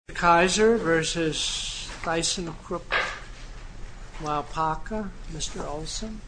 The Kaiser versus ThyssenKrupp Malpaca, Mr. Olson. The Kaiser versus ThyssenKrupp Malpaca, Mr. Olson. The Kaiser versus ThyssenKrupp Malpaca, Mr. Olson.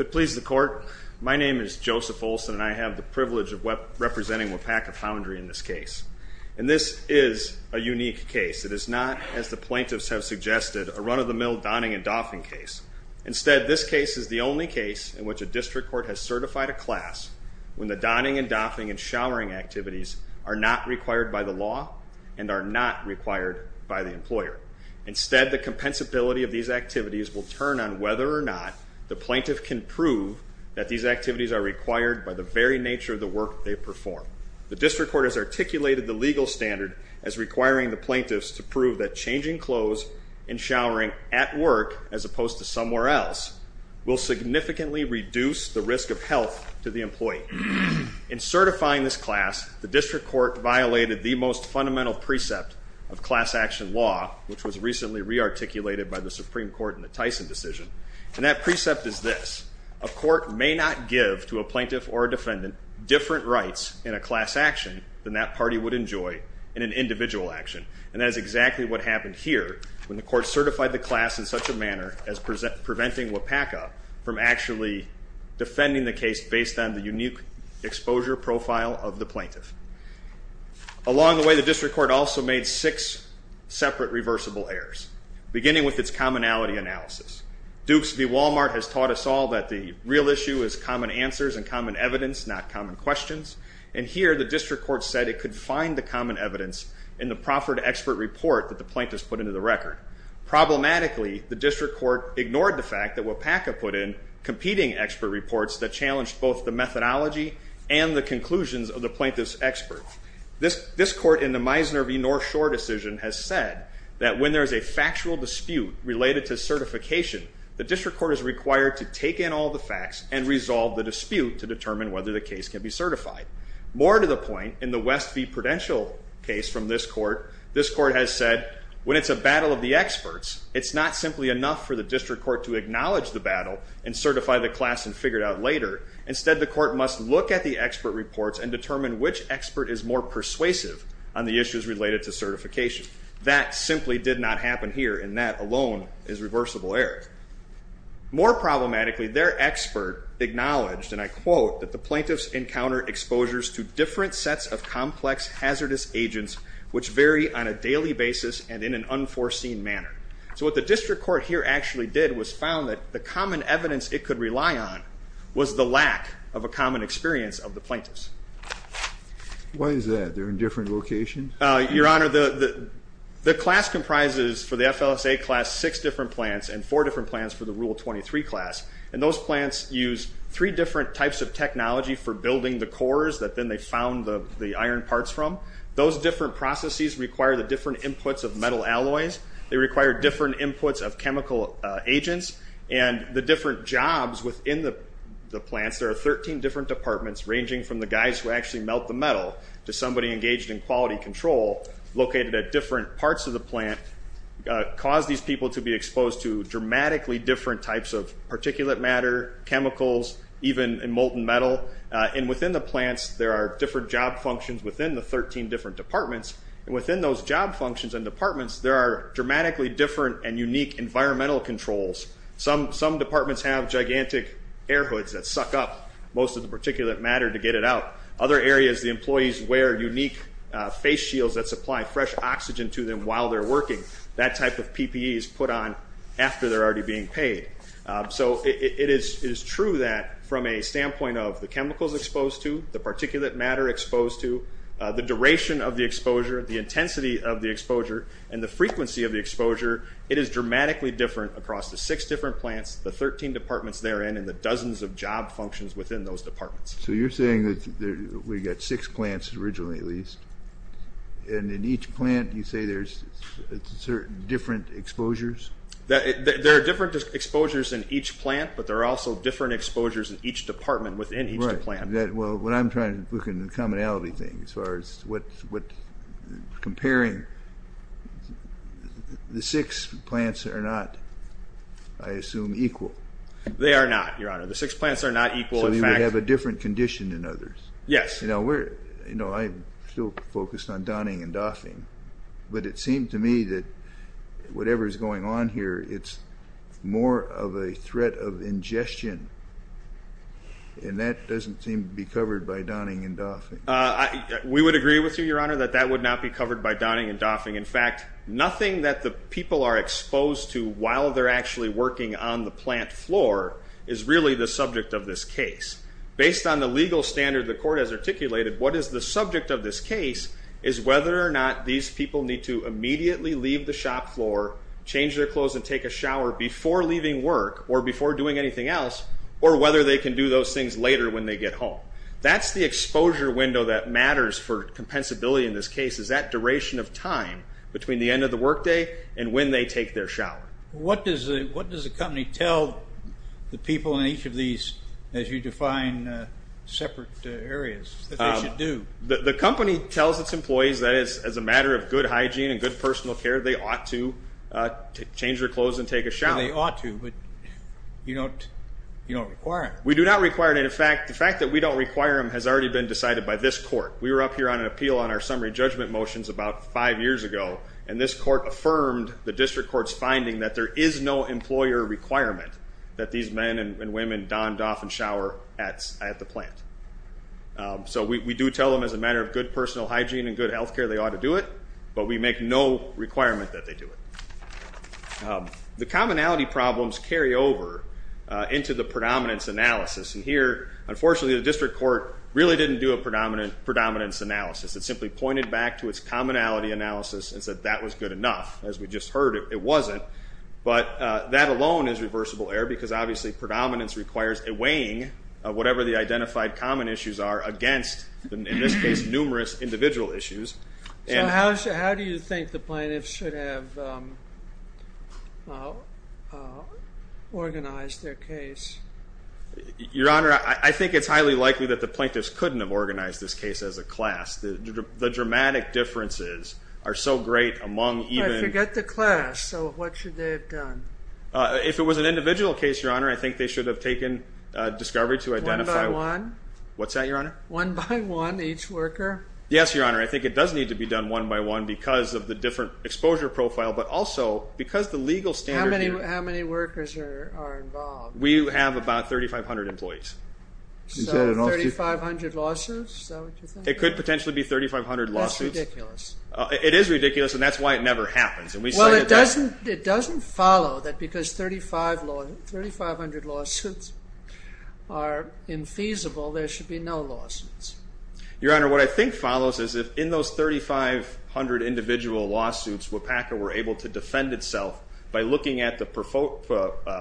If it pleases the court, my name is Joseph Olson and I have the privilege of representing Wapakafoundry in this case. And this is a unique case. It is not, as the plaintiffs have suggested, a run-of-the-mill donning and doffing case. Instead, this case is the only case in which a district court has certified a class when the donning and doffing and showering activities are not required by the law and are not required by the employer. Instead, the compensability of these activities will turn on whether or not the plaintiff can prove that these activities are required by the very nature of the work they perform. The district court has articulated the legal standard as requiring the plaintiffs to prove that changing clothes and showering at work, as opposed to somewhere else, will significantly reduce the risk of health to the employee. In certifying this class, the district court violated the most fundamental precept of class action law, which was recently re-articulated by the Supreme Court in the Tyson decision. And that precept is this, a court may not give to a plaintiff or a defendant different rights in a class action than that party would enjoy in an individual action. And that is exactly what happened here when the court certified the class in such a manner as preventing Wapakafoundry from actually defending the case based on the unique exposure profile of the plaintiff. Along the way, the district court also made six separate reversible errors, beginning with its commonality analysis. Dukes v. Wal-Mart has taught us all that the real issue is common answers and common evidence, not common questions. And here, the district court said it could find the common evidence in the proffered expert report that the plaintiffs put into the record. Problematically, the district court ignored the fact that Wapakafoundry put in competing expert reports that challenged both the methodology and the conclusions of the plaintiffs' experts. This court in the Meisner v. North Shore decision has said that when there is a factual dispute related to certification, the district court is required to take in all the facts and resolve the dispute to determine whether the case can be certified. More to the point, in the West v. Prudential case from this court, this court has said when it's a battle of the experts, it's not simply enough for the district court to acknowledge the battle and certify the class and figure it out later. Instead, the court must look at the expert reports and determine which expert is more persuasive on the issues related to certification. That simply did not happen here, and that alone is reversible error. More problematically, their expert acknowledged, and I quote, that the plaintiffs encounter exposures to different sets of complex hazardous agents which vary on a daily basis and in an unforeseen manner. So what the district court here actually did was found that the common evidence it could rely on was the lack of a common experience of the plaintiffs. Why is that? They're in different locations? Your Honor, the class comprises, for the FLSA class, six different plants and four different plants for the Rule 23 class, and those plants use three different types of technology for building the cores that then they found the iron parts from. Those different processes require the different inputs of metal alloys. They require different inputs of chemical agents, and the different jobs within the plants, there are 13 different departments ranging from the guys who actually melt the metal to somebody engaged in quality control located at different parts of the plant, cause these people to be exposed to dramatically different types of particulate matter, chemicals, even molten metal. Within the plants, there are different job functions within the 13 different departments. Within those job functions and departments, there are dramatically different and unique environmental controls. Some departments have gigantic air hoods that suck up most of the particulate matter to get it out. Other areas, the employees wear unique face shields that supply fresh oxygen to them while they're working. That type of PPE is put on after they're already being paid. So it is true that from a standpoint of the chemicals exposed to, the particulate matter exposed to, the duration of the exposure, the intensity of the exposure, and the frequency of the exposure, it is dramatically different across the six different plants, the 13 departments therein, and the dozens of job functions within those departments. So you're saying that we've got six plants originally at least, and in each plant you say there's certain different exposures? There are different exposures in each plant, but there are also different exposures in each department within each plant. Well, what I'm trying to look at is the commonality thing as far as what's comparing. The six plants are not, I assume, equal. They are not, Your Honor. The six plants are not equal. So you would have a different condition than others? Yes. You know, I'm still focused on donning and doffing, but it seemed to me that whatever is going on here, it's more of a threat of ingestion, and that doesn't seem to be covered by donning and doffing. We would agree with you, Your Honor, that that would not be covered by donning and doffing. In fact, nothing that the people are exposed to while they're actually working on the plant floor is really the subject of this case. Based on the legal standard the court has articulated, what is the subject of this case is whether or not these people need to immediately leave the shop floor, change their clothes, and take a shower before leaving work or before doing anything else, or whether they can do those things later when they get home. That's the exposure window that matters for compensability in this case, is that duration of time between the end of the workday and when they take their shower. What does the company tell the people in each of these, as you define separate areas, that they should do? The company tells its employees that as a matter of good hygiene and good personal care, they ought to change their clothes and take a shower. They ought to, but you don't require it. We do not require it. In fact, the fact that we don't require them has already been decided by this court. We were up here on an appeal on our summary judgment motions about five years ago, and this court affirmed the district court's finding that there is no employer requirement that these men and women don, doff, and shower at the plant. So, we do tell them as a matter of good personal hygiene and good health care, they ought to do it, but we make no requirement that they do it. The commonality problems carry over into the predominance analysis, and here, unfortunately, the district court really didn't do a predominance analysis. It simply pointed back to its commonality analysis and said that was good enough. As we just heard, it wasn't, but that alone is reversible error because, obviously, predominance requires a weighing of whatever the identified common issues are against, in this case, numerous individual issues. So, how do you think the plaintiffs should have organized their case? Your Honor, I think it's highly likely that the plaintiffs couldn't have organized this case as a class. The dramatic differences are so great among even... I forget the class, so what should they have done? If it was an individual case, Your Honor, I think they should have taken discovery to One by one? What's that, Your Honor? One by one, each worker? Yes, Your Honor. I think it does need to be done one by one because of the different exposure profile, but also because the legal standard... How many workers are involved? We have about 3,500 employees. So, 3,500 lawsuits, is that what you're thinking? It could potentially be 3,500 lawsuits. That's ridiculous. It is ridiculous, and that's why it never happens. Well, it doesn't follow that because 3,500 lawsuits are infeasible, there should be no lawsuits. Your Honor, what I think follows is if in those 3,500 individual lawsuits, WIPACA were able to defend itself by looking at the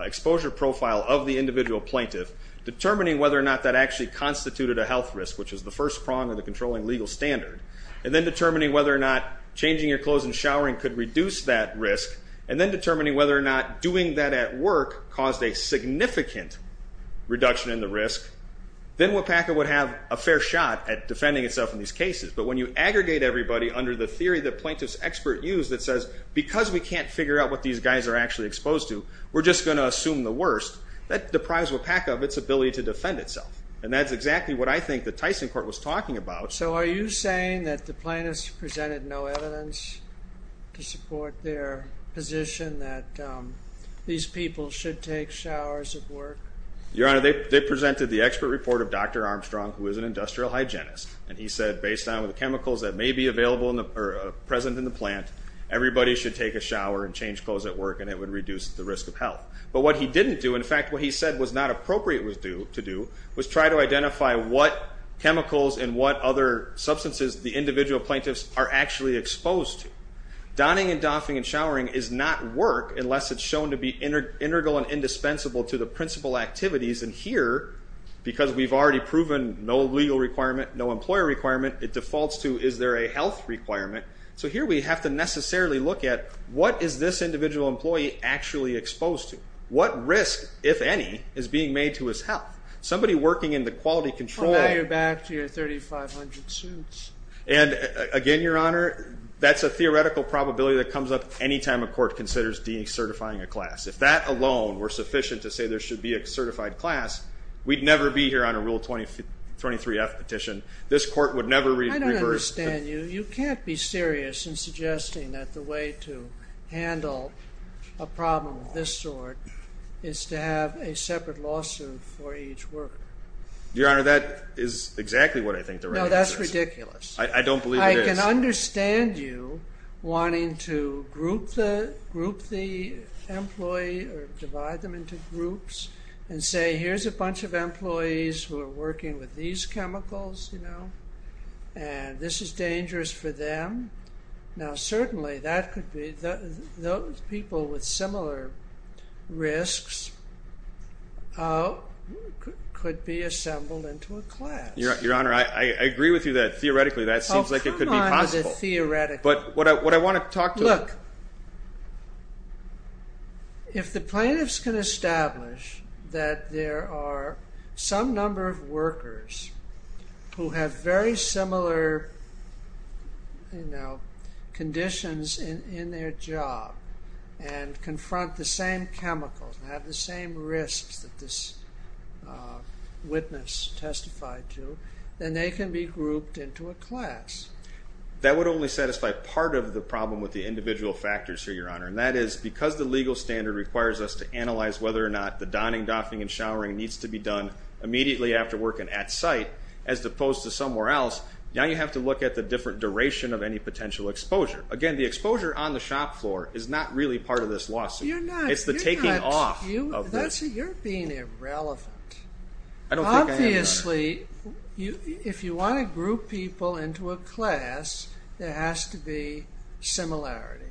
exposure profile of the individual plaintiff, determining whether or not that actually constituted a health risk, which is the first prong of the controlling legal standard, and then determining whether or not changing your clothes and showering could reduce that risk, and then determining whether or not doing that at work caused a significant reduction in the risk, then WIPACA would have a fair shot at defending itself in these cases. But when you aggregate everybody under the theory that plaintiff's expert used that says, because we can't figure out what these guys are actually exposed to, we're just going to assume the worst, that deprives WIPACA of its ability to defend itself. And that's exactly what I think the Tyson Court was talking about. So are you saying that the plaintiffs presented no evidence to support their position that these people should take showers at work? Your Honor, they presented the expert report of Dr. Armstrong, who is an industrial hygienist, and he said based on the chemicals that may be present in the plant, everybody should take a shower and change clothes at work and it would reduce the risk of health. But what he didn't do, in fact what he said was not appropriate to do, was try to identify what chemicals and what other substances the individual plaintiffs are actually exposed to. Donning and doffing and showering is not work unless it's shown to be integral and indispensable to the principal activities. And here, because we've already proven no legal requirement, no employer requirement, it defaults to is there a health requirement? So here we have to necessarily look at what is this individual employee actually exposed to? What risk, if any, is being made to his health? Somebody working in the quality control. Well, now you're back to your 3,500 suits. And again, Your Honor, that's a theoretical probability that comes up any time a court considers decertifying a class. If that alone were sufficient to say there should be a certified class, we'd never be here on a Rule 23F petition. This court would never reverse. I don't understand you. You can't be serious in suggesting that the way to handle a problem of this sort is to have a separate lawsuit for each worker. Your Honor, that is exactly what I think the right answer is. No, that's ridiculous. I don't believe it is. I can understand you wanting to group the employee or divide them into groups and say, here's a bunch of employees who are working with these chemicals, you know, and this is dangerous for them. Now certainly, that could be, those people with similar risks could be assembled into a class. Your Honor, I agree with you that, theoretically, that seems like it could be possible. Oh, come on with the theoretical. But what I want to talk to the... Look, if the plaintiffs can establish that there are some number of workers who have very similar, you know, conditions in their job and confront the same chemicals and have the same risks that this witness testified to, then they can be grouped into a class. That would only satisfy part of the problem with the individual factors here, Your Honor, and that is because the legal standard requires us to analyze whether or not the donning, doffing, and showering needs to be done immediately after work and at site, as opposed to some where else. Now you have to look at the different duration of any potential exposure. Again, the exposure on the shop floor is not really part of this lawsuit. It's the taking off of this. You're being irrelevant. Obviously, if you want to group people into a class, there has to be similarity,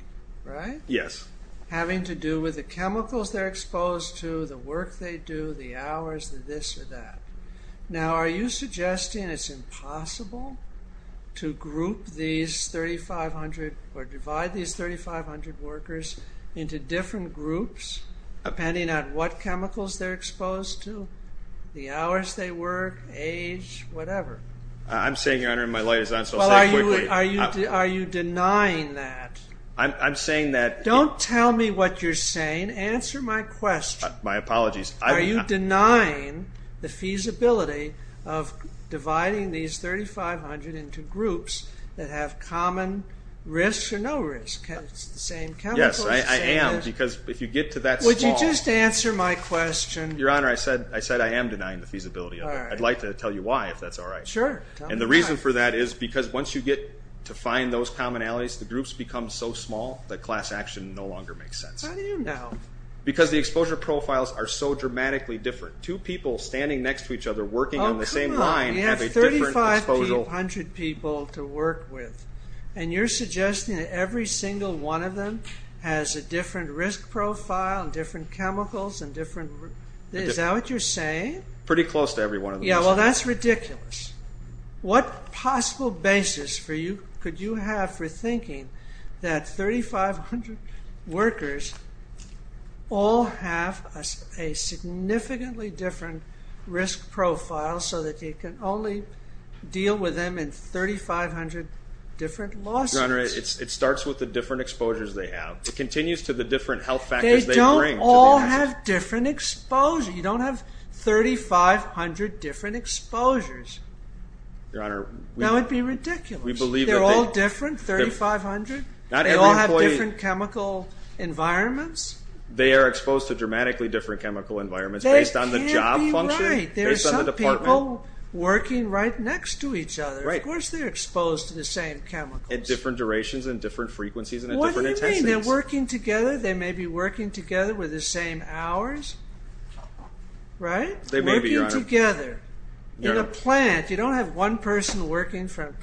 right? Yes. Having to do with the chemicals they're exposed to, the work they do, the hours, the this or that. Now, are you suggesting it's impossible to group these 3,500 or divide these 3,500 workers into different groups depending on what chemicals they're exposed to, the hours they work, age, whatever? I'm saying, Your Honor, and my light is on, so I'll say it quickly. Are you denying that? I'm saying that... Don't tell me what you're saying. Answer my question. My apologies. Are you denying the feasibility of dividing these 3,500 into groups that have common risk or no risk? It's the same chemicals. Yes, I am, because if you get to that small... Would you just answer my question? Your Honor, I said I am denying the feasibility of it. I'd like to tell you why, if that's all right. Sure, tell me why. And the reason for that is because once you get to find those commonalities, the groups become so small that class action no longer makes sense. How do you know? Because the exposure profiles are so dramatically different. Two people standing next to each other working on the same line have a different exposure... Oh, come on. You have 3,500 people to work with, and you're suggesting that every single one of them has a different risk profile and different chemicals and different... Is that what you're saying? Pretty close to every one of them. Yeah, well, that's ridiculous. What possible basis could you have for thinking that 3,500 workers all have a significantly different risk profile so that you can only deal with them in 3,500 different lawsuits? Your Honor, it starts with the different exposures they have. It continues to the different health factors they bring. They don't all have different exposure. You don't have 3,500 different exposures. Your Honor, we... That would be ridiculous. We believe that they... They're all different, 3,500. Not every employee... They all have different chemical environments. They are exposed to dramatically different chemical environments based on the job function. They can't be right. Based on the department. There are some people working right next to each other. Right. Of course they're exposed to the same chemicals. At different durations and different frequencies and at different intensities. What do you mean? They're working together. They may be working together with the same hours. Right? They may be... Working together. Your Honor... In a plant, you don't have one person working from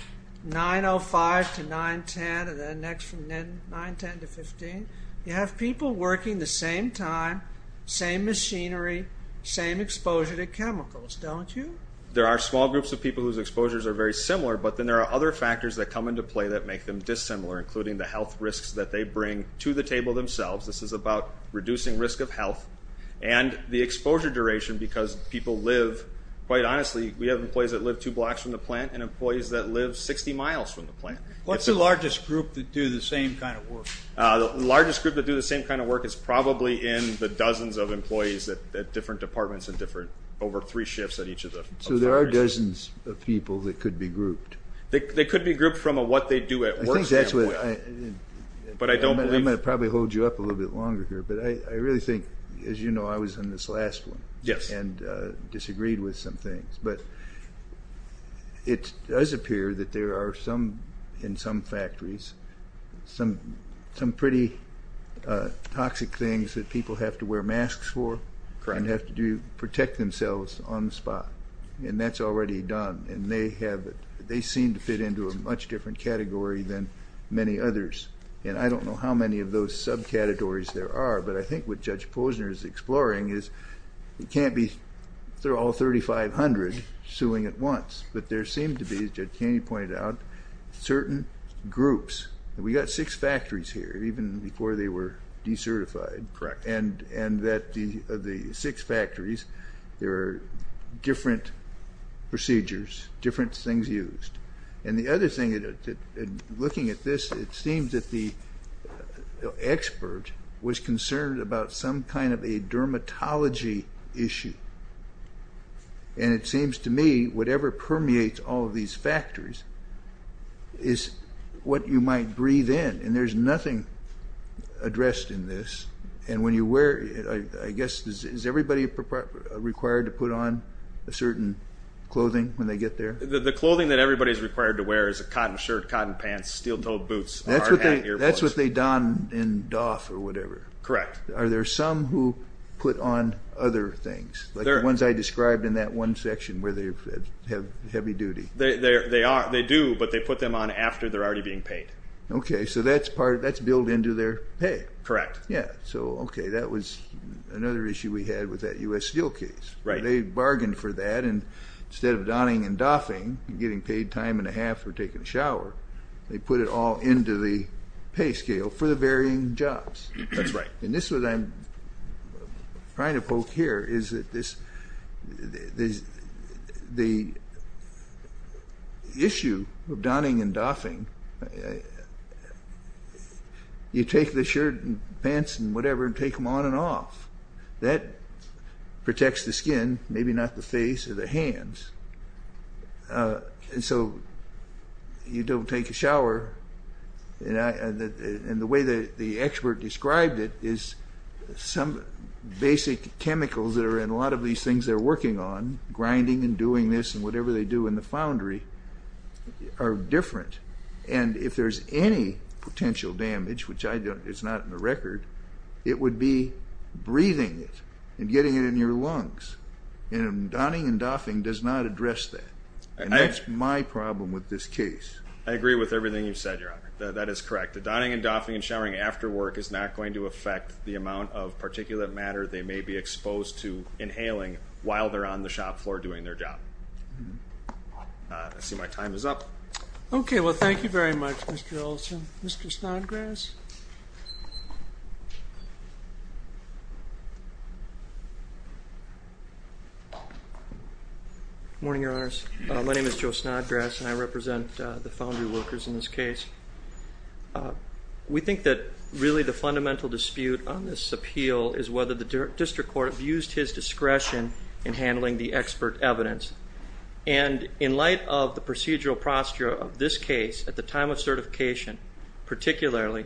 9.05 to 9.10 and the next from 9.10 to 15. You have people working the same time, same machinery, same exposure to chemicals, don't you? There are small groups of people whose exposures are very similar, but then there are other factors that come into play that make them dissimilar, including the health risks that they bring to the table themselves. This is about reducing risk of health and the exposure duration because people live... Quite honestly, we have employees that live two blocks from the plant and employees that live 60 miles from the plant. What's the largest group that do the same kind of work? The largest group that do the same kind of work is probably in the dozens of employees at different departments and different... Over three shifts at each of the... So there are dozens of people that could be grouped? They could be grouped from what they do at work... I think that's what... But I don't believe... I'm going to probably hold you up a little bit longer here, but I really think, as you know, I was in this last one and disagreed with some things, but it does appear that there are some, in some factories, some pretty toxic things that people have to wear masks for and have to protect themselves on the spot, and that's already done. They seem to fit into a much different category than many others, and I don't know how many of those subcategories there are, but I think what Judge Posner is exploring is it can't be... They're all 3,500 suing at once, but there seem to be, as Judge Kaney pointed out, certain groups. We've got six factories here, even before they were decertified. Correct. And that the six factories, there are different procedures, different things used. And the other thing, looking at this, it seems that the expert was concerned about some kind of a dermatology issue, and it seems to me whatever permeates all of these factories is what you might breathe in, and there's nothing addressed in this. And when you wear, I guess, is everybody required to put on a certain clothing when they get there? The clothing that everybody's required to wear is a cotton shirt, cotton pants, steel toed boots, hard hat, ear plugs. That's what they don in Doff or whatever. Correct. Are there some who put on other things, like the ones I described in that one section where they have heavy duty? They do, but they put them on after they're already being paid. Okay, so that's built into their pay. Correct. Yeah, so okay, that was another issue we had with that U.S. Steel case. They bargained for that, and instead of donning and doffing and getting paid time and a half for taking a shower, they put it all into the pay scale for the varying jobs. That's right. And this is what I'm trying to poke here, is that the issue of donning and doffing, you take the shirt and pants and whatever and take them on and off. That protects the skin, maybe not the face or the hands. And so you don't take a shower, and the way the expert described it is some basic chemicals that are in a lot of these things they're working on, grinding and doing this and whatever they do in the foundry, are different. And if there's any potential damage, which I don't, it's not in the record, it would be breathing it and getting it in your lungs. And donning and doffing does not address that. And that's my problem with this case. I agree with everything you've said, Your Honor. That is correct. The donning and doffing and showering after work is not going to affect the amount of particulate matter they may be exposed to inhaling while they're on the shop floor doing their job. I see my time is up. Okay, well thank you very much, Mr. Olson. Mr. Snodgrass? Good morning, Your Honors. My name is Joe Snodgrass, and I represent the foundry workers in this case. We think that really the fundamental dispute on this appeal is whether the district court used his discretion in handling the expert evidence. And in light of the procedural procedure of this case, at the time of certification, particularly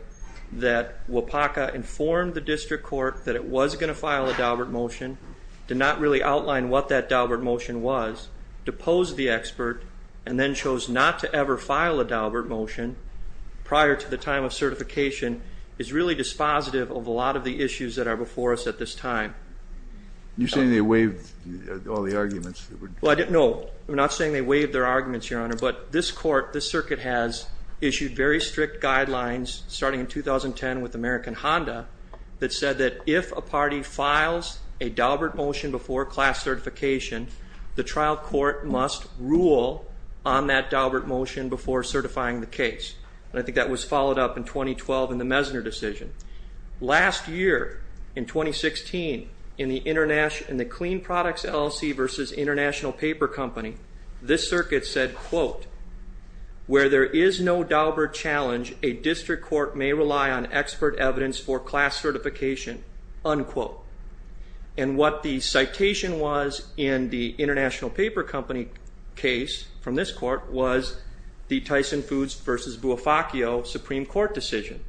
that WAPACA informed the district court that it was going to file a Daubert motion, did not really outline what that Daubert motion was, deposed the expert, and then chose not to ever file a Daubert motion prior to the time of certification is really dispositive of a lot of the issues that are before us at this time. You're saying they waived all the arguments? No, I'm not saying they waived their arguments, Your Honor. But this court, this circuit has issued very strict guidelines starting in 2010 with American Honda that said that if a party files a Daubert motion before class certification, the trial court must rule on that Daubert motion before certifying the case. And I think that was followed up in 2012 in the Messner decision. Last year, in 2016, in the Clean Products LLC versus International Paper Company, this circuit said, quote, where there is no Daubert challenge, a district court may rely on expert evidence for class certification, unquote. And what the citation was in the International Paper Company case from this court was the Tyson Foods versus Buofaccio Supreme Court decision.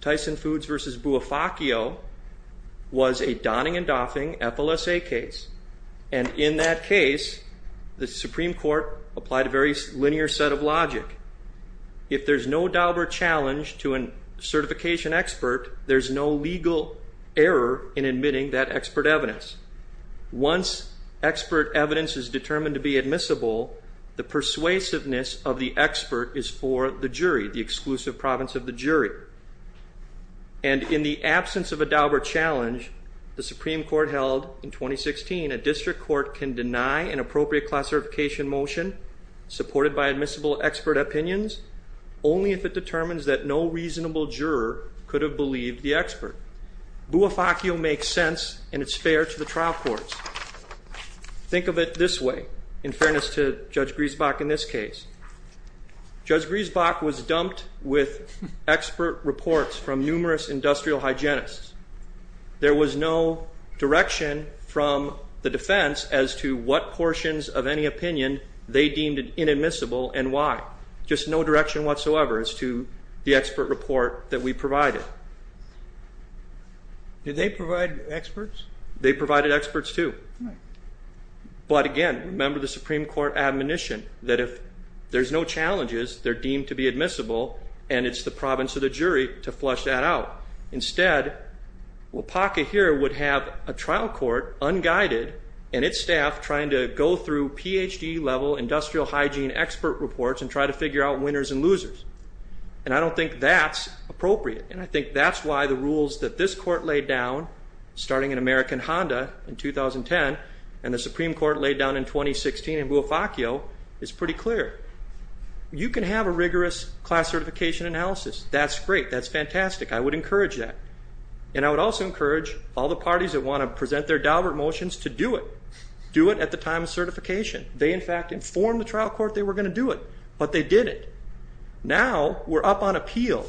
Tyson Foods versus Buofaccio was a Donning and Doffing FLSA case. And in that case, the Supreme Court applied a very linear set of logic. If there's no Daubert challenge to a certification expert, there's no legal error in admitting that expert evidence. Once expert evidence is determined to be admissible, the persuasiveness of the expert is for the jury, the exclusive province of the jury. And in the absence of a Daubert challenge, the Supreme Court held in 2016, a district court can deny an appropriate classification motion supported by admissible expert opinions only if it determines that no reasonable juror could have believed the expert. Buofaccio makes sense, and it's fair to the trial courts. Think of it this way, in fairness to Judge Griesbach in this case. Judge Griesbach was dumped with expert reports from numerous industrial hygienists. There was no direction from the defense as to what portions of any opinion they deemed inadmissible and why. Just no direction whatsoever as to the expert report that we provided. Did they provide experts? They provided experts too. But again, remember the Supreme Court admonition that if there's no challenges, they're deemed to be admissible, and it's the province or the jury to flush that out. Instead, WAPACA here would have a trial court, unguided, and its staff trying to go through Ph.D. level industrial hygiene expert reports and try to figure out winners and losers. And I don't think that's appropriate. And I think that's why the rules that this court laid down starting in American Honda in 2010 and the Supreme Court laid down in 2016 in Buofaccio is pretty clear. You can have a rigorous class certification analysis. That's great. That's fantastic. I would encourage that. And I would also encourage all the parties that want to present their Daubert motions to do it. Do it at the time of certification. They, in fact, informed the trial court they were going to do it, but they didn't. Now we're up on appeal,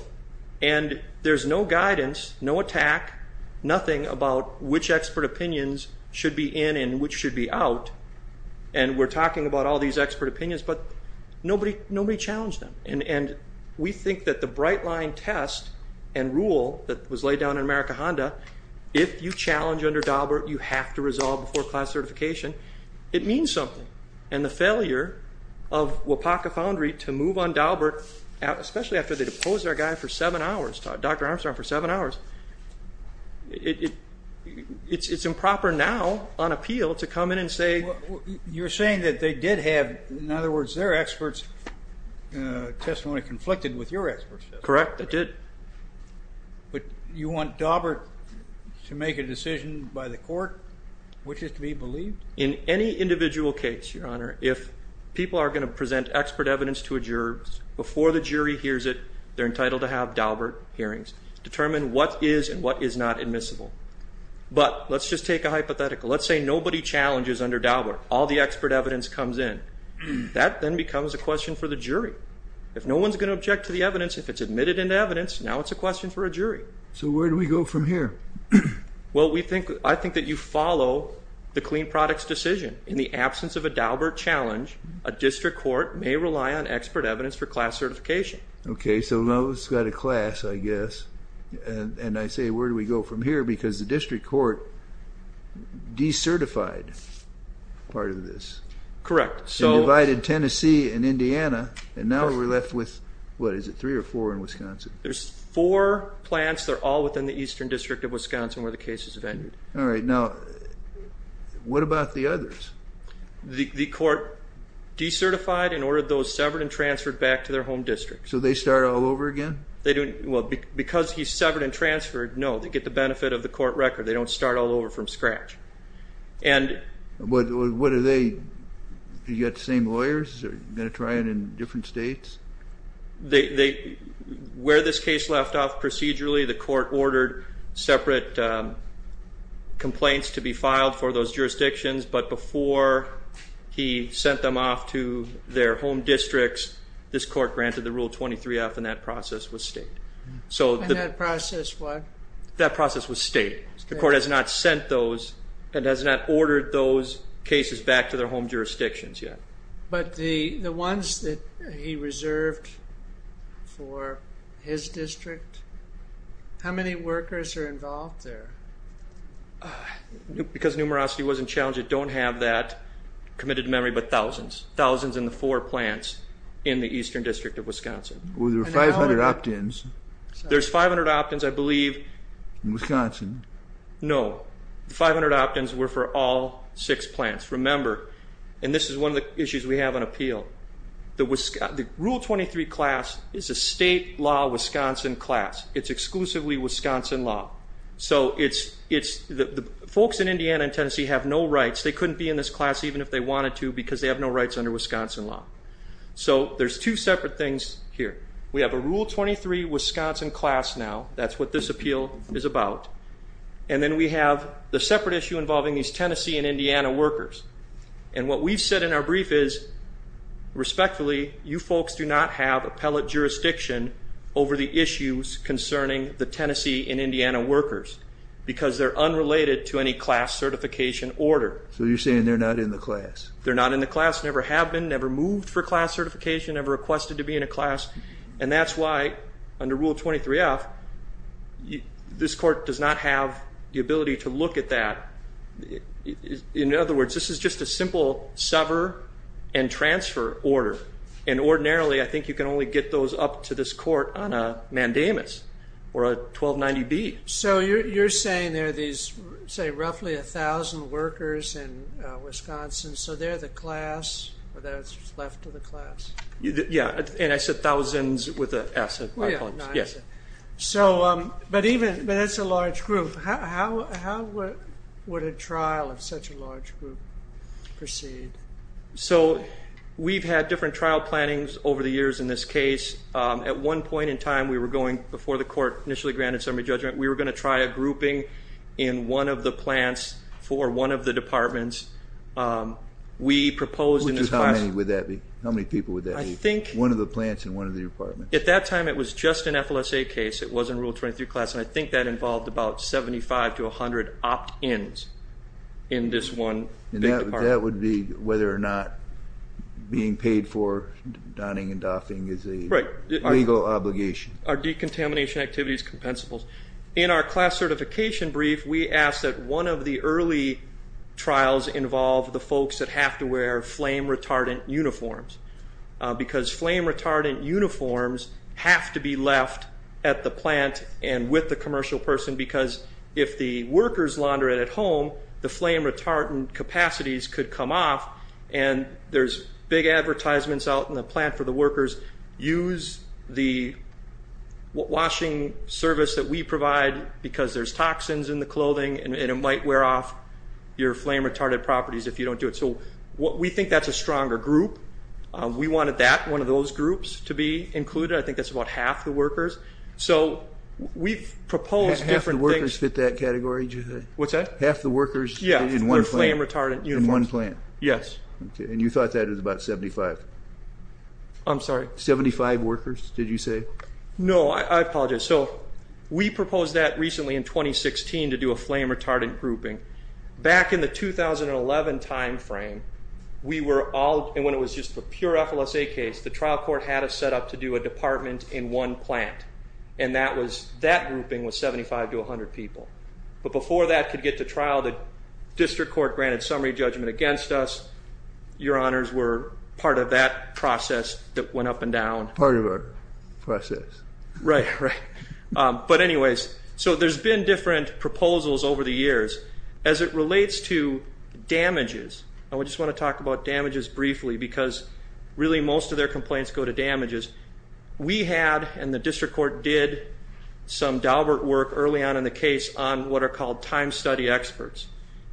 and there's no guidance, no attack, nothing about which expert opinions should be in and which should be out, and we're talking about all these expert opinions, but nobody challenged them. And we think that the bright line test and rule that was laid down in American Honda, if you challenge under Daubert, you have to resolve before class certification. It means something. And the failure of Wapaka Foundry to move on Daubert, especially after they deposed our guy for seven hours, Dr. Armstrong, for seven hours, it's improper now on appeal to come in and say. You're saying that they did have, in other words, their expert's testimony conflicted with your expert's testimony? Correct, they did. But you want Daubert to make a decision by the court which is to be believed? In any individual case, Your Honor, if people are going to present expert evidence to a juror, before the jury hears it, they're entitled to have Daubert hearings. Determine what is and what is not admissible. But let's just take a hypothetical. Let's say nobody challenges under Daubert. All the expert evidence comes in. That then becomes a question for the jury. If no one's going to object to the evidence, if it's admitted into evidence, now it's a question for a jury. So where do we go from here? Well, I think that you follow the clean products decision. In the absence of a Daubert challenge, a district court may rely on expert evidence for class certification. Okay, so now it's got a class, I guess. And I say, where do we go from here? Because the district court decertified part of this. Correct. It divided Tennessee and Indiana, and now we're left with, what, is it three or four in Wisconsin? There's four plants. They're all within the eastern district of Wisconsin where the case is vetted. All right, now what about the others? The court decertified and ordered those severed and transferred back to their home district. So they start all over again? Well, because he's severed and transferred, no, they get the benefit of the court record. They don't start all over from scratch. What are they? You got the same lawyers? Are you going to try it in different states? Where this case left off procedurally, the court ordered separate complaints to be filed for those jurisdictions, but before he sent them off to their home districts, this court granted the Rule 23F, and that process was state. And that process what? That process was state. The court has not sent those and has not ordered those cases back to their home jurisdictions yet. But the ones that he reserved for his district, how many workers are involved there? Because numerosity wasn't challenged, committed to memory, but thousands. Thousands in the four plants in the eastern district of Wisconsin. Well, there were 500 opt-ins. There's 500 opt-ins, I believe. In Wisconsin. No. The 500 opt-ins were for all six plants. Remember, and this is one of the issues we have on appeal, the Rule 23 class is a state law Wisconsin class. It's exclusively Wisconsin law. The folks in Indiana and Tennessee have no rights. They couldn't be in this class even if they wanted to because they have no rights under Wisconsin law. So there's two separate things here. We have a Rule 23 Wisconsin class now. That's what this appeal is about. And then we have the separate issue involving these Tennessee and Indiana workers. And what we've said in our brief is, respectfully, you folks do not have appellate jurisdiction over the issues concerning the Tennessee and Indiana workers because they're unrelated to any class certification order. So you're saying they're not in the class. They're not in the class, never have been, never moved for class certification, never requested to be in a class. And that's why, under Rule 23F, this court does not have the ability to look at that. In other words, this is just a simple sever and transfer order. And ordinarily, I think you can only get those up to this court on a mandamus or a 1290B. So you're saying there are these, say, roughly 1,000 workers in Wisconsin, so they're the class or that's left to the class? Yeah, and I said thousands with an S. But that's a large group. How would a trial of such a large group proceed? So we've had different trial plannings over the years in this case. At one point in time, we were going, before the court initially granted summary judgment, we were going to try a grouping in one of the plants for one of the departments. We proposed in this class— How many people would that be, one of the plants and one of the departments? At that time, it was just an FLSA case. It wasn't Rule 23 class. And I think that involved about 75 to 100 opt-ins in this one big department. And that would be whether or not being paid for donning and doffing is a legal obligation. Are decontamination activities compensable? In our class certification brief, we asked that one of the early trials involve the folks that have to wear flame-retardant uniforms because flame-retardant uniforms have to be left at the plant and with the commercial person because if the workers launder it at home, the flame-retardant capacities could come off. And there's big advertisements out in the plant for the workers, use the washing service that we provide because there's toxins in the clothing and it might wear off your flame-retardant properties if you don't do it. So we think that's a stronger group. We wanted that, one of those groups, to be included. I think that's about half the workers. So we've proposed different things. Half the workers fit that category, did you say? What's that? Half the workers in one plant. Yeah, their flame-retardant uniforms. In one plant. Yes. And you thought that was about 75? I'm sorry? 75 workers, did you say? No, I apologize. So we proposed that recently in 2016 to do a flame-retardant grouping. Back in the 2011 timeframe, when it was just a pure FLSA case, the trial court had us set up to do a department in one plant, and that grouping was 75 to 100 people. But before that could get to trial, the district court granted summary judgment against us. Your Honors, we're part of that process that went up and down. Part of our process. Right, right. But anyways, so there's been different proposals over the years. As it relates to damages, and we just want to talk about damages briefly, because really most of their complaints go to damages. We had, and the district court did, some Daubert work early on in the case on what are called time study experts,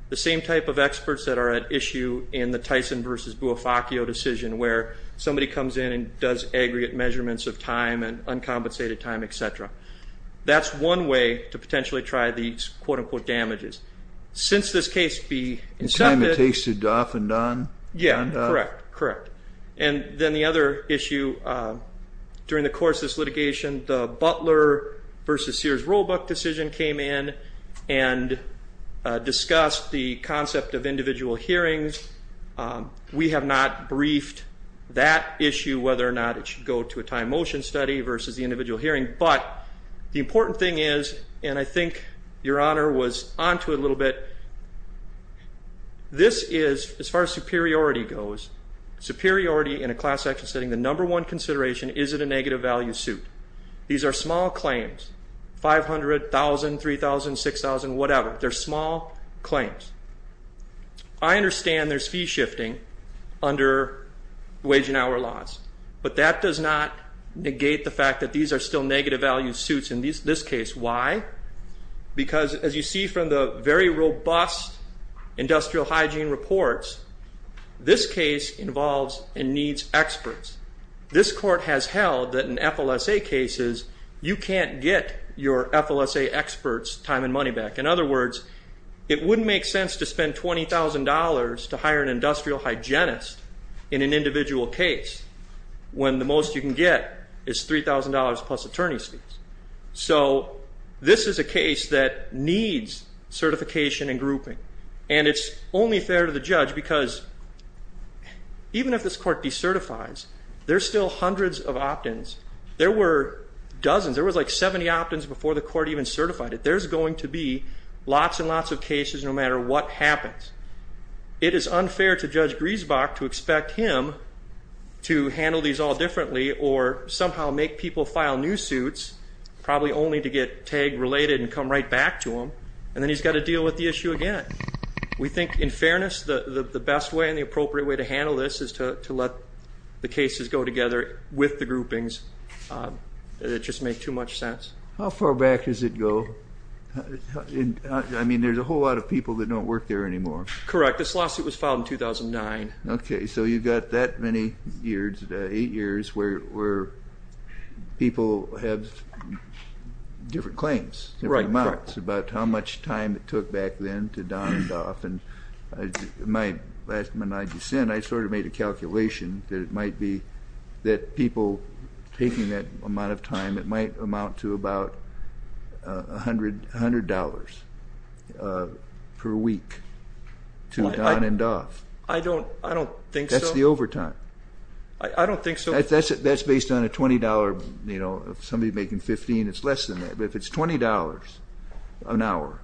the same type of experts that are at issue in the Tyson versus Buofaccio decision where somebody comes in and does aggregate measurements of time and uncompensated time, et cetera. That's one way to potentially try these quote-unquote damages. Since this case be accepted. The time it takes to doff and on. Yeah, correct, correct. And then the other issue during the course of this litigation, the Butler versus Sears Roebuck decision came in and discussed the concept of individual hearings. We have not briefed that issue, whether or not it should go to a time motion study versus the individual hearing. But the important thing is, and I think Your Honor was onto it a little bit, this is, as far as superiority goes, superiority in a class action setting, the number one consideration, is it a negative value suit? These are small claims, 500,000, 3,000, 6,000, whatever. They're small claims. I understand there's fee shifting under wage and hour laws, but that does not negate the fact that these are still negative value suits in this case. Why? Because, as you see from the very robust industrial hygiene reports, this case involves and needs experts. This court has held that in FLSA cases, you can't get your FLSA experts' time and money back. In other words, it wouldn't make sense to spend $20,000 to hire an industrial hygienist in an individual case when the most you can get is $3,000 plus attorney's fees. So this is a case that needs certification and grouping. And it's only fair to the judge because even if this court decertifies, there's still hundreds of opt-ins. There were dozens. There was like 70 opt-ins before the court even certified it. There's going to be lots and lots of cases no matter what happens. It is unfair to Judge Griesbach to expect him to handle these all differently or somehow make people file new suits, probably only to get TAG related and come right back to him, and then he's got to deal with the issue again. We think, in fairness, the best way and the appropriate way to handle this is to let the cases go together with the groupings. It would just make too much sense. How far back does it go? I mean, there's a whole lot of people that don't work there anymore. Correct. This lawsuit was filed in 2009. Okay. So you've got that many years, eight years, where people have different claims, different amounts, about how much time it took back then to don it off. And last month I just sent, I sort of made a calculation that it might be that people taking that amount of time, it might amount to about $100 per week to don and doff. I don't think so. That's the overtime. I don't think so. That's based on a $20. If somebody's making $15, it's less than that. But if it's $20 an hour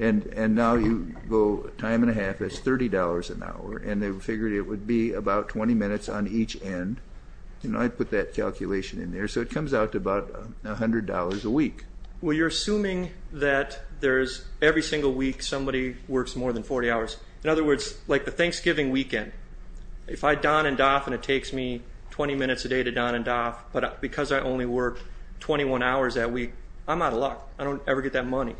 and now you go a time and a half, that's $30 an hour, and they figured it would be about 20 minutes on each end. I put that calculation in there. So it comes out to about $100 a week. Well, you're assuming that there's every single week somebody works more than 40 hours. In other words, like the Thanksgiving weekend, if I don and doff and it takes me 20 minutes a day to don and doff, but because I only work 21 hours that week, I'm out of luck. I don't ever get that money.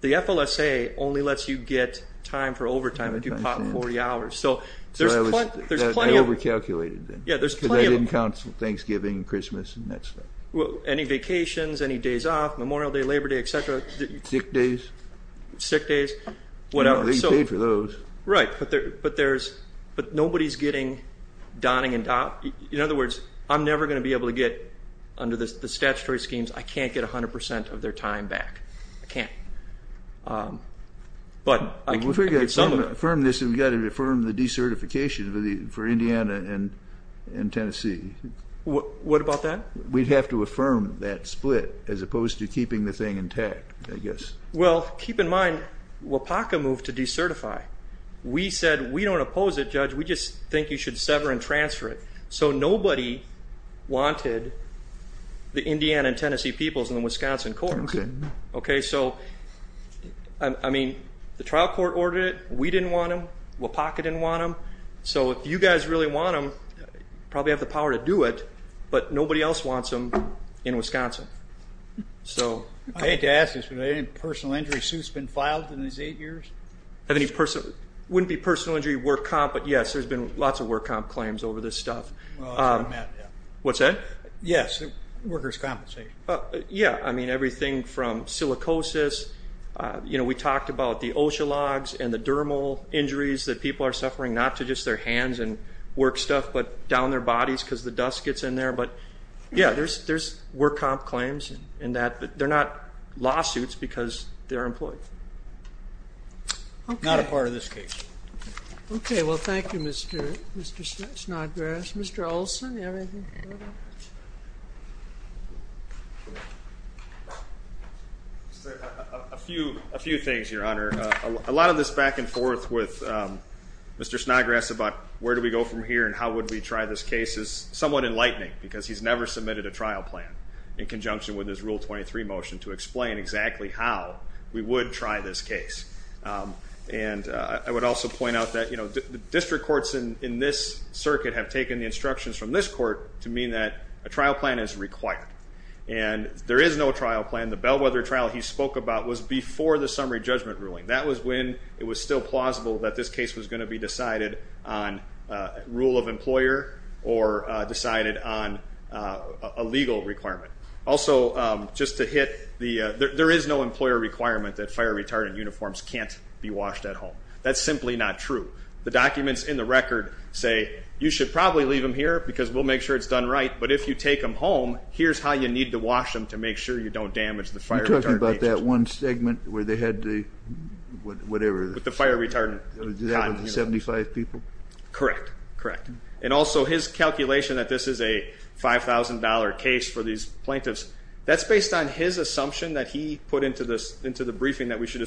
The FLSA only lets you get time for overtime if you pop 40 hours. So there's plenty of them. I over-calculated then. Yeah, there's plenty of them. But that didn't count for Thanksgiving and Christmas and that stuff. Well, any vacations, any days off, Memorial Day, Labor Day, et cetera. Sick days. Sick days. They paid for those. Right. But nobody's getting donning and doff. In other words, I'm never going to be able to get, under the statutory schemes, I can't get 100% of their time back. I can't. If we're going to affirm this, we've got to affirm the decertification for Indiana and Tennessee. What about that? We'd have to affirm that split as opposed to keeping the thing intact, I guess. Well, keep in mind, WAPACA moved to decertify. We said we don't oppose it, Judge, we just think you should sever and transfer it. So nobody wanted the Indiana and Tennessee peoples in the Wisconsin Corps. Okay, so, I mean, the trial court ordered it. We didn't want them. WAPACA didn't want them. So if you guys really want them, you probably have the power to do it, but nobody else wants them in Wisconsin. I hate to ask this, but have any personal injury suits been filed in these eight years? Wouldn't be personal injury work comp, but, yes, there's been lots of work comp claims over this stuff. What's that? Yes, workers' compensation. Yeah, I mean, everything from silicosis, you know, we talked about the OSHA logs and the dermal injuries that people are suffering, not to just their hands and work stuff, but down their bodies because the dust gets in there. But, yeah, there's work comp claims in that. They're not lawsuits because they're employees. Not a part of this case. Okay, well, thank you, Mr. Snodgrass. Mr. Olson, do you have anything? A few things, Your Honor. A lot of this back and forth with Mr. Snodgrass about where do we go from here and how would we try this case is somewhat enlightening because he's never submitted a trial plan in conjunction with his Rule 23 motion to explain exactly how we would try this case. And I would also point out that, you know, the instructions from this court to mean that a trial plan is required. And there is no trial plan. The Bellwether trial he spoke about was before the summary judgment ruling. That was when it was still plausible that this case was going to be decided on rule of employer or decided on a legal requirement. Also, just to hit, there is no employer requirement that fire-retardant uniforms can't be washed at home. That's simply not true. The documents in the record say you should probably leave them here because we'll make sure it's done right. But if you take them home, here's how you need to wash them to make sure you don't damage the fire-retardant agents. You're talking about that one segment where they had the whatever. With the fire-retardant. That was the 75 people? Correct. Correct. And also his calculation that this is a $5,000 case for these plaintiffs, that's based on his assumption that he put into the briefing that we should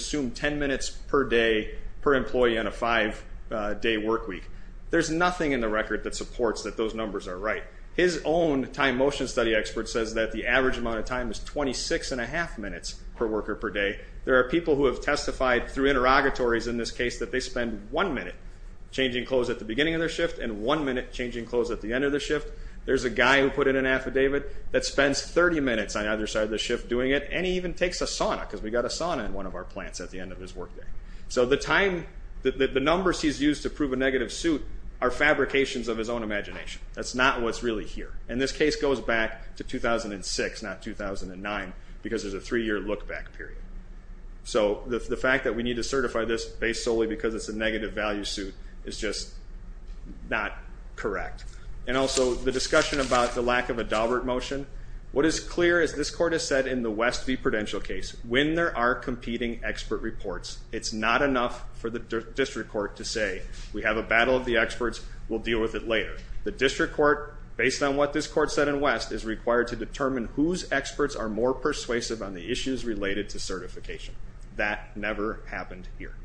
per day per employee on a five-day work week. There's nothing in the record that supports that those numbers are right. His own time motion study expert says that the average amount of time is 26 and a half minutes per worker per day. There are people who have testified through interrogatories in this case that they spend one minute changing clothes at the beginning of their shift and one minute changing clothes at the end of their shift. There's a guy who put in an affidavit that spends 30 minutes on either side of the shift doing it, and he even takes a sauna because we've got a sauna in one of our plants at the end of his work day. So the numbers he's used to prove a negative suit are fabrications of his own imagination. That's not what's really here. And this case goes back to 2006, not 2009, because there's a three-year look-back period. So the fact that we need to certify this based solely because it's a negative value suit is just not correct. And also the discussion about the lack of a Daubert motion. What is clear is this court has said in the Westview Prudential case, when there are competing expert reports, it's not enough for the district court to say, we have a battle of the experts, we'll deal with it later. The district court, based on what this court said in West, is required to determine whose experts are more persuasive on the issues related to certification. That never happened here.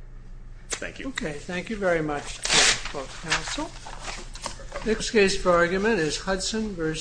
Thank you. Okay. Thank you very much. Next case for argument is Hudson v.